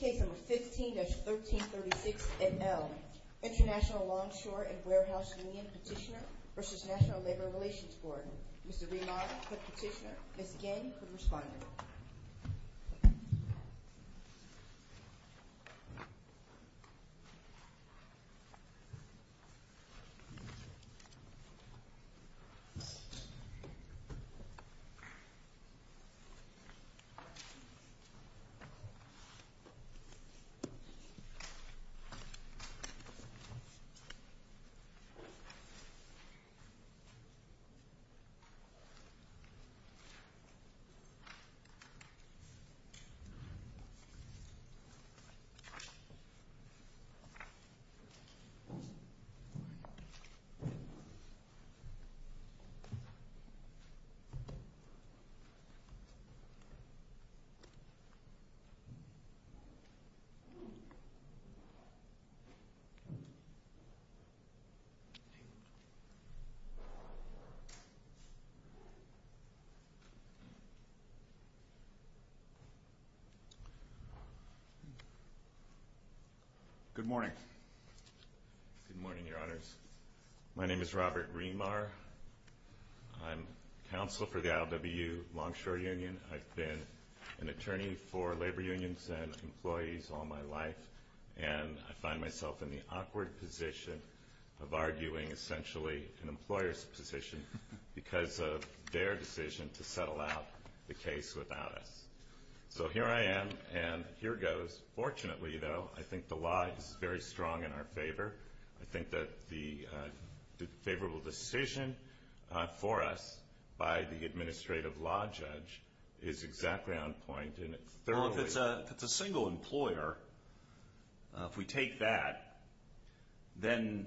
Case No. 15-1336 et al. International Longshore & Warehouse Union Petitioner v. National Labor Relations Board. Mr. Belano for the petitioner, Ms. Gandy for the respondent. Petitioner v. National Labor Relations Board. Good morning. Good morning, Your Honors. My name is Robert Greenmar. I'm counsel for the LWU Longshore Union. I've been an attorney for labor unions and employees all my life, and I find myself in the awkward position of arguing essentially an employer's position because of their decision to settle out the case without us. So here I am, and here goes. Fortunately, though, I think the law is very strong in our favor. I think that the favorable decision for us by the administrative law judge is exactly on point. If it's a single employer, if we take that, then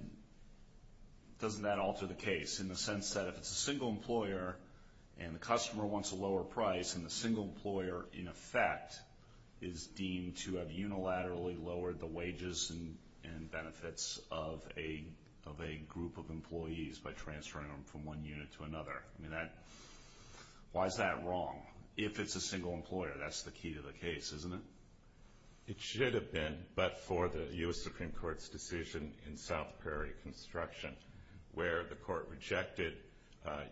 doesn't that alter the case in the sense that if it's a single employer and the customer wants a lower price and the single employer, in effect, is deemed to have unilaterally lowered the wages and benefits of a group of employees by transferring them from one unit to another, why is that wrong? If it's a single employer, that's the key to the case, isn't it? It should have been, but for the U.S. Supreme Court's decision in South Prairie Construction, where the court rejected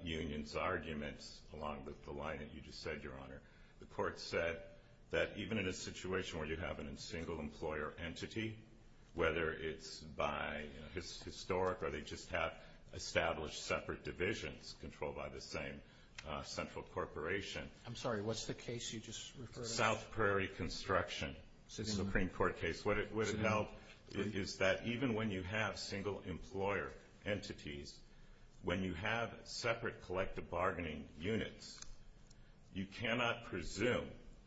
unions' arguments along with the line that you just said, Your Honor. The court said that even in a situation where you have a single employer entity, whether it's by historic or they just have established separate divisions controlled by the same central corporation. I'm sorry, what's the case you just referred to? The South Prairie Construction Supreme Court case. What it held is that even when you have single employer entities, when you have separate collective bargaining units, you cannot presume,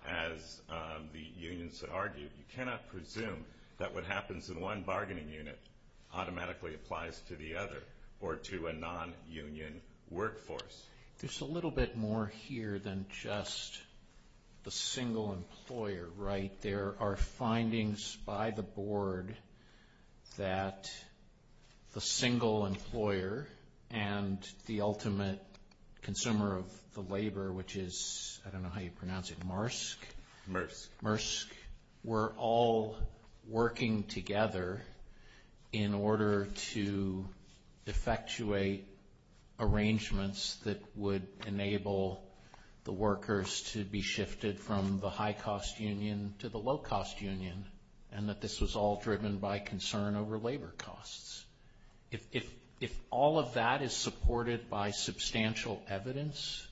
as the unions argued, you cannot presume that what happens in one bargaining unit automatically applies to the other or to a non-union workforce. There's a little bit more here than just the single employer, right? There are findings by the board that the single employer and the ultimate consumer of the labor, which is, I don't know how you pronounce it, Maersk. Maersk. were all working together in order to effectuate arrangements that would enable the workers to be shifted from the high-cost union to the low-cost union and that this was all driven by concern over labor costs. If all of that is supported by substantial evidence,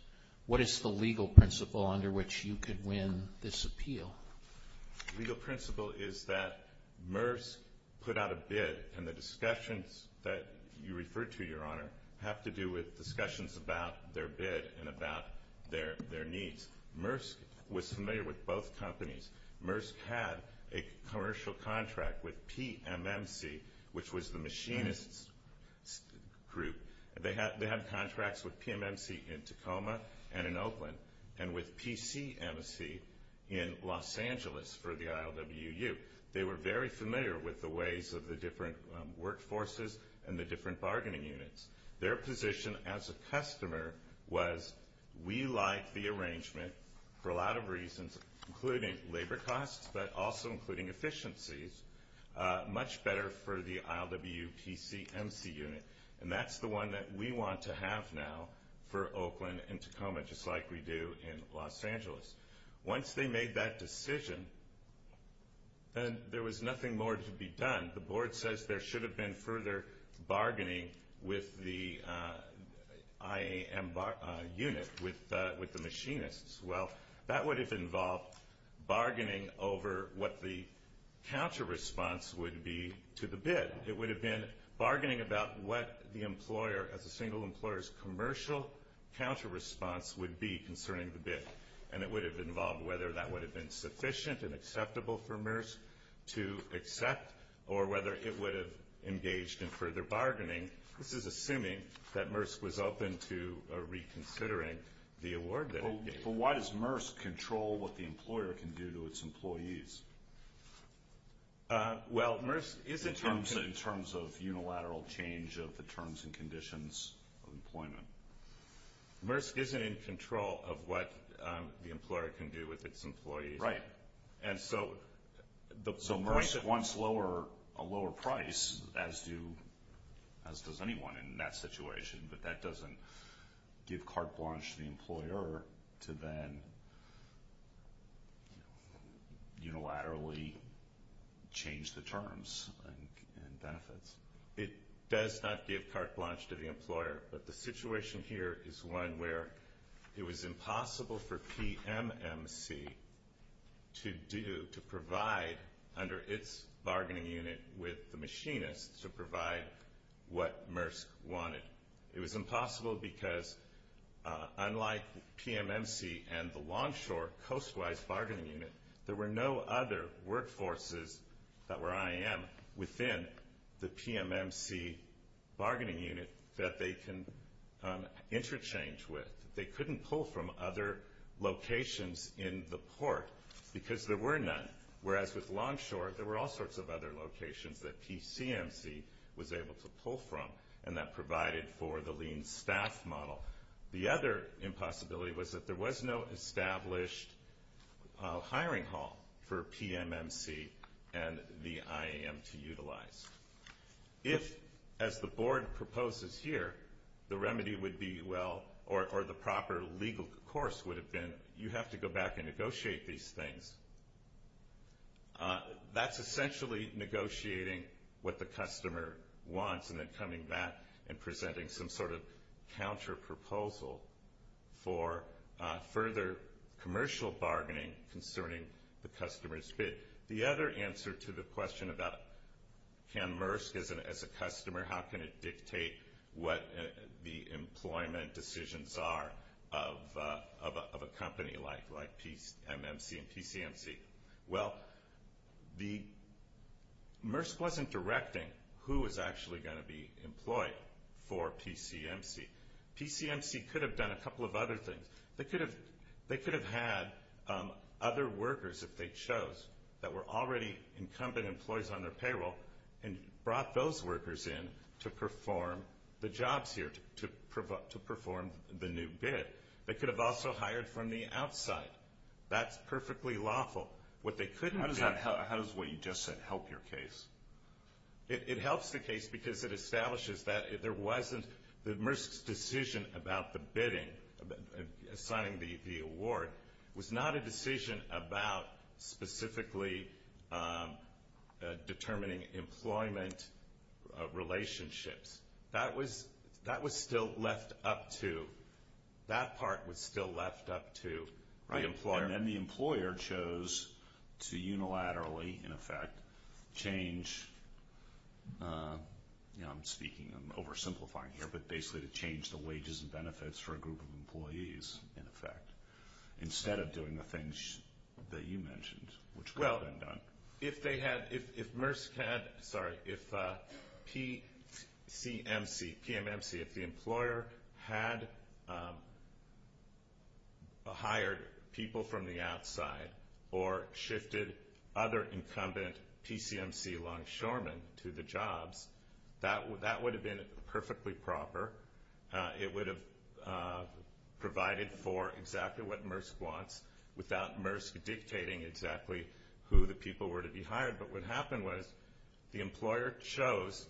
what is the legal principle under which you could win this appeal? The legal principle is that Maersk put out a bid, and the discussions that you referred to, Your Honor, have to do with discussions about their bid and about their needs. Maersk was familiar with both companies. Maersk had a commercial contract with PMMC, which was the machinists group. They had contracts with PMMC in Tacoma and in Oakland and with PCMC in Los Angeles for the ILWU. They were very familiar with the ways of the different workforces and the different bargaining units. Their position as a customer was, we like the arrangement for a lot of reasons, including labor costs, but also including efficiencies, much better for the ILWU PCMC unit. And that's the one that we want to have now for Oakland and Tacoma, just like we do in Los Angeles. Once they made that decision, then there was nothing more to be done. The board says there should have been further bargaining with the IAM unit, with the machinists. Well, that would have involved bargaining over what the counter response would be to the bid. It would have been bargaining about what the employer, as a single employer's commercial counter response would be concerning the bid. And it would have involved whether that would have been sufficient and acceptable for Maersk to accept or whether it would have engaged in further bargaining. This is assuming that Maersk was open to reconsidering the award that it gave. But why does Maersk control what the employer can do to its employees? Well, Maersk is in terms of unilateral change of the terms and conditions of employment. Maersk isn't in control of what the employer can do with its employees. Right. And so Maersk wants a lower price, as does anyone in that situation, but that doesn't give carte blanche to the employer to then unilaterally change the terms and benefits. It does not give carte blanche to the employer, but the situation here is one where it was impossible for PMMC to do, to provide under its bargaining unit with the machinists to provide what Maersk wanted. It was impossible because unlike PMMC and the Longshore Coastwise Bargaining Unit, there were no other workforces that were IM within the PMMC bargaining unit that they can interchange with. They couldn't pull from other locations in the port because there were none. Whereas with Longshore, there were all sorts of other locations that PCMC was able to pull from, and that provided for the lean staff model. The other impossibility was that there was no established hiring hall for PMMC and the IAM to utilize. If, as the board proposes here, the remedy would be well, or the proper legal course would have been, you have to go back and negotiate these things, that's essentially negotiating what the customer wants and then coming back and presenting some sort of counterproposal for further commercial bargaining concerning the customer's bid. The other answer to the question about can Maersk, as a customer, how can it dictate what the employment decisions are of a company like PMMC and PCMC? Well, Maersk wasn't directing who was actually going to be employed for PCMC. PCMC could have done a couple of other things. They could have had other workers, if they chose, that were already incumbent employees on their payroll and brought those workers in to perform the jobs here, to perform the new bid. They could have also hired from the outside. That's perfectly lawful. How does what you just said help your case? It helps the case because it establishes that there wasn't, that Maersk's decision about the bidding, signing the award, was not a decision about specifically determining employment relationships. That was still left up to, that part was still left up to the employer. And the employer chose to unilaterally, in effect, change, I'm speaking, I'm oversimplifying here, but basically to change the wages and benefits for a group of employees, in effect, instead of doing the things that you mentioned, which could have been done. If they had, if Maersk had, sorry, if PCMC, PMMC, if the employer had hired people from the outside or shifted other incumbent PCMC longshoremen to the jobs, that would have been perfectly proper. It would have provided for exactly what Maersk wants without Maersk dictating exactly who the people were to be hired. But what happened was the employer chose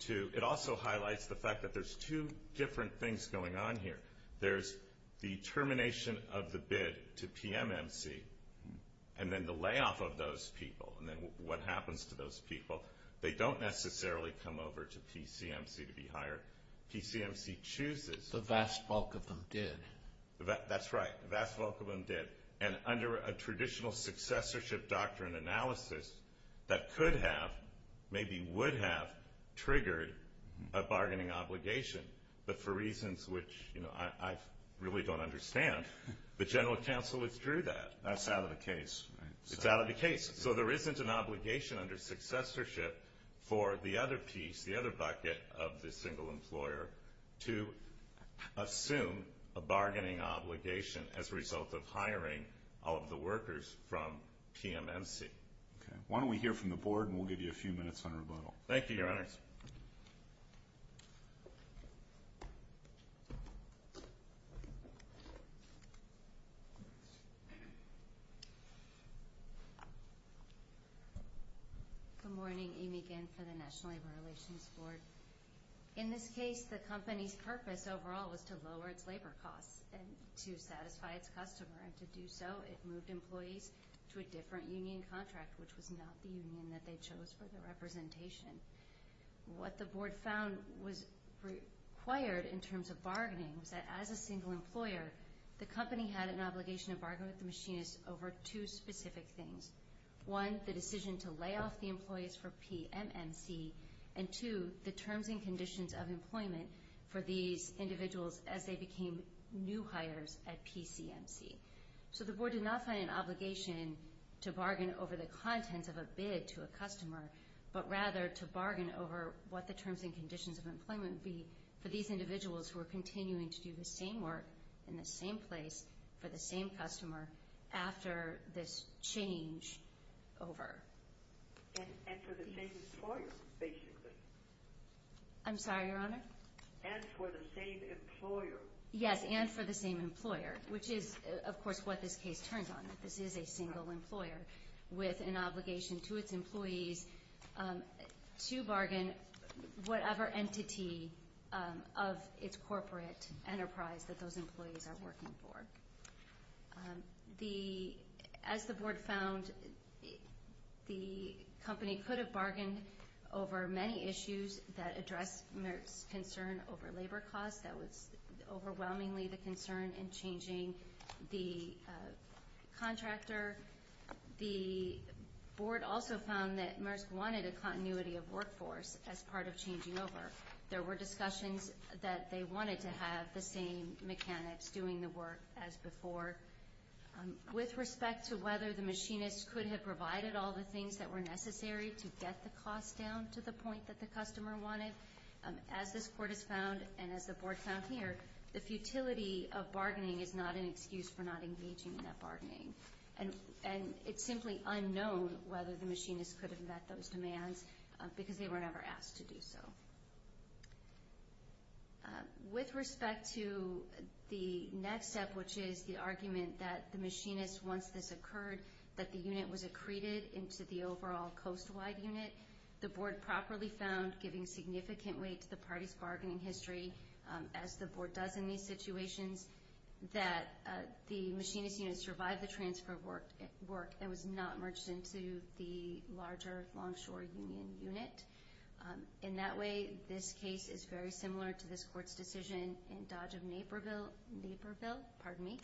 to, it also highlights the fact that there's two different things going on here. There's the termination of the bid to PMMC and then the layoff of those people and then what happens to those people. They don't necessarily come over to PCMC to be hired. PCMC chooses. The vast bulk of them did. That's right. The vast bulk of them did. And under a traditional successorship doctrine analysis that could have, maybe would have, triggered a bargaining obligation, but for reasons which I really don't understand, the general counsel withdrew that. That's out of the case. It's out of the case. So there isn't an obligation under successorship for the other piece, of the single employer to assume a bargaining obligation as a result of hiring all of the workers from PMMC. Okay. Why don't we hear from the Board and we'll give you a few minutes on rebuttal. Thank you, Your Honors. Good morning. Amy Ginn for the National Labor Relations Board. In this case, the company's purpose overall was to lower its labor costs and to satisfy its customer, and to do so, it moved employees to a different union contract, which was not the union that they chose for the representation. What the Board found was required in terms of bargaining was that as a single employer, the company had an obligation to bargain with the machinists over two specific things. One, the decision to lay off the employees for PMMC, and two, the terms and conditions of employment for these individuals as they became new hires at PCMC. So the Board did not find an obligation to bargain over the contents of a bid to a customer, but rather to bargain over what the terms and conditions of employment would be for these individuals who are continuing to do the same work in the same place for the same customer after this changeover. And for the same employer, basically. I'm sorry, Your Honor? And for the same employer. Yes, and for the same employer, which is, of course, what this case turns on, that this is a single employer with an obligation to its employees to bargain whatever entity of its corporate enterprise that those employees are working for. As the Board found, the company could have bargained over many issues that addressed Merck's concern over labor costs. That was overwhelmingly the concern in changing the contractor. The Board also found that Merck wanted a continuity of workforce as part of changing over. There were discussions that they wanted to have the same mechanics doing the work as before. With respect to whether the machinist could have provided all the things that were necessary to get the cost down to the point that the customer wanted, as this Court has found and as the Board found here, the futility of bargaining is not an excuse for not engaging in that bargaining. And it's simply unknown whether the machinist could have met those demands because they were never asked to do so. With respect to the next step, which is the argument that the machinist, once this occurred, that the unit was accreted into the overall coast-wide unit, the Board properly found, giving significant weight to the party's bargaining history, as the Board does in these situations, that the machinist unit survived the transfer work and was not merged into the larger longshore union unit. In that way, this case is very similar to this Court's decision in Dodge of Naperville, pardon me,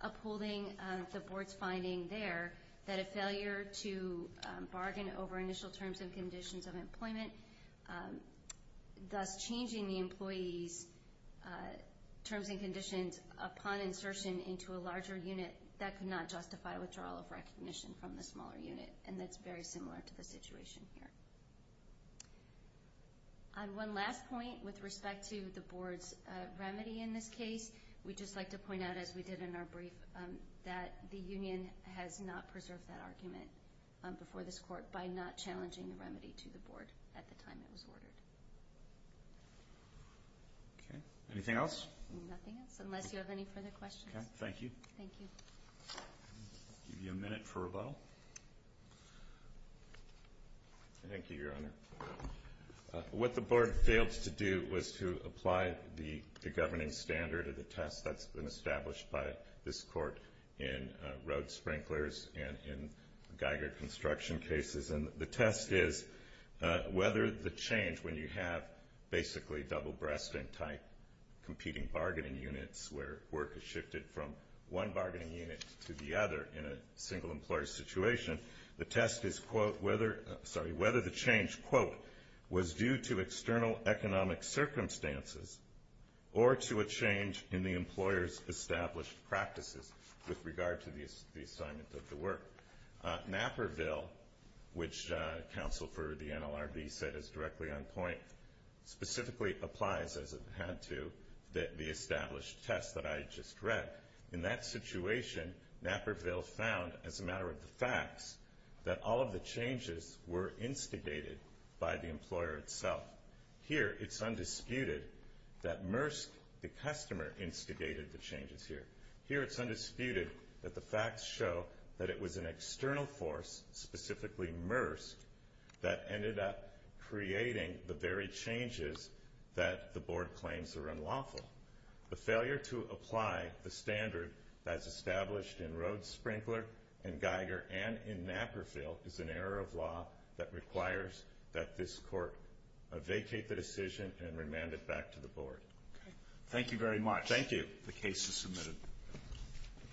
upholding the Board's finding there that a failure to bargain over initial terms and conditions of employment, thus changing the employee's terms and conditions upon insertion into a larger unit, that could not justify withdrawal of recognition from the smaller unit. And that's very similar to the situation here. One last point with respect to the Board's remedy in this case. We'd just like to point out, as we did in our brief, that the union has not preserved that argument before this Court by not challenging the remedy to the Board at the time it was ordered. Okay. Anything else? Nothing else, unless you have any further questions. Okay. Thank you. Thank you. I'll give you a minute for rebuttal. Thank you, Your Honor. What the Board failed to do was to apply the governing standard of the test that's been established by this Court in road sprinklers and in Geiger construction cases. And the test is whether the change, when you have basically double-breasting-type competing bargaining units where work is shifted from one bargaining unit to the other in a single-employer situation, the test is whether the change, quote, was due to external economic circumstances or to a change in the employer's established practices with regard to the assignment of the work. Napperville, which counsel for the NLRB said is directly on point, specifically applies, as it had to, the established test that I just read. In that situation, Napperville found, as a matter of the facts, that all of the changes were instigated by the employer itself. Here it's undisputed that MERSK, the customer, instigated the changes here. Here it's undisputed that the facts show that it was an external force, specifically MERSK, that ended up creating the very changes that the Board claims are unlawful. The failure to apply the standard that is established in Rhodes-Sprinkler and Geiger and in Napperville is an error of law that requires that this Court vacate the decision and remand it back to the Board. Thank you very much. Thank you. The case is submitted.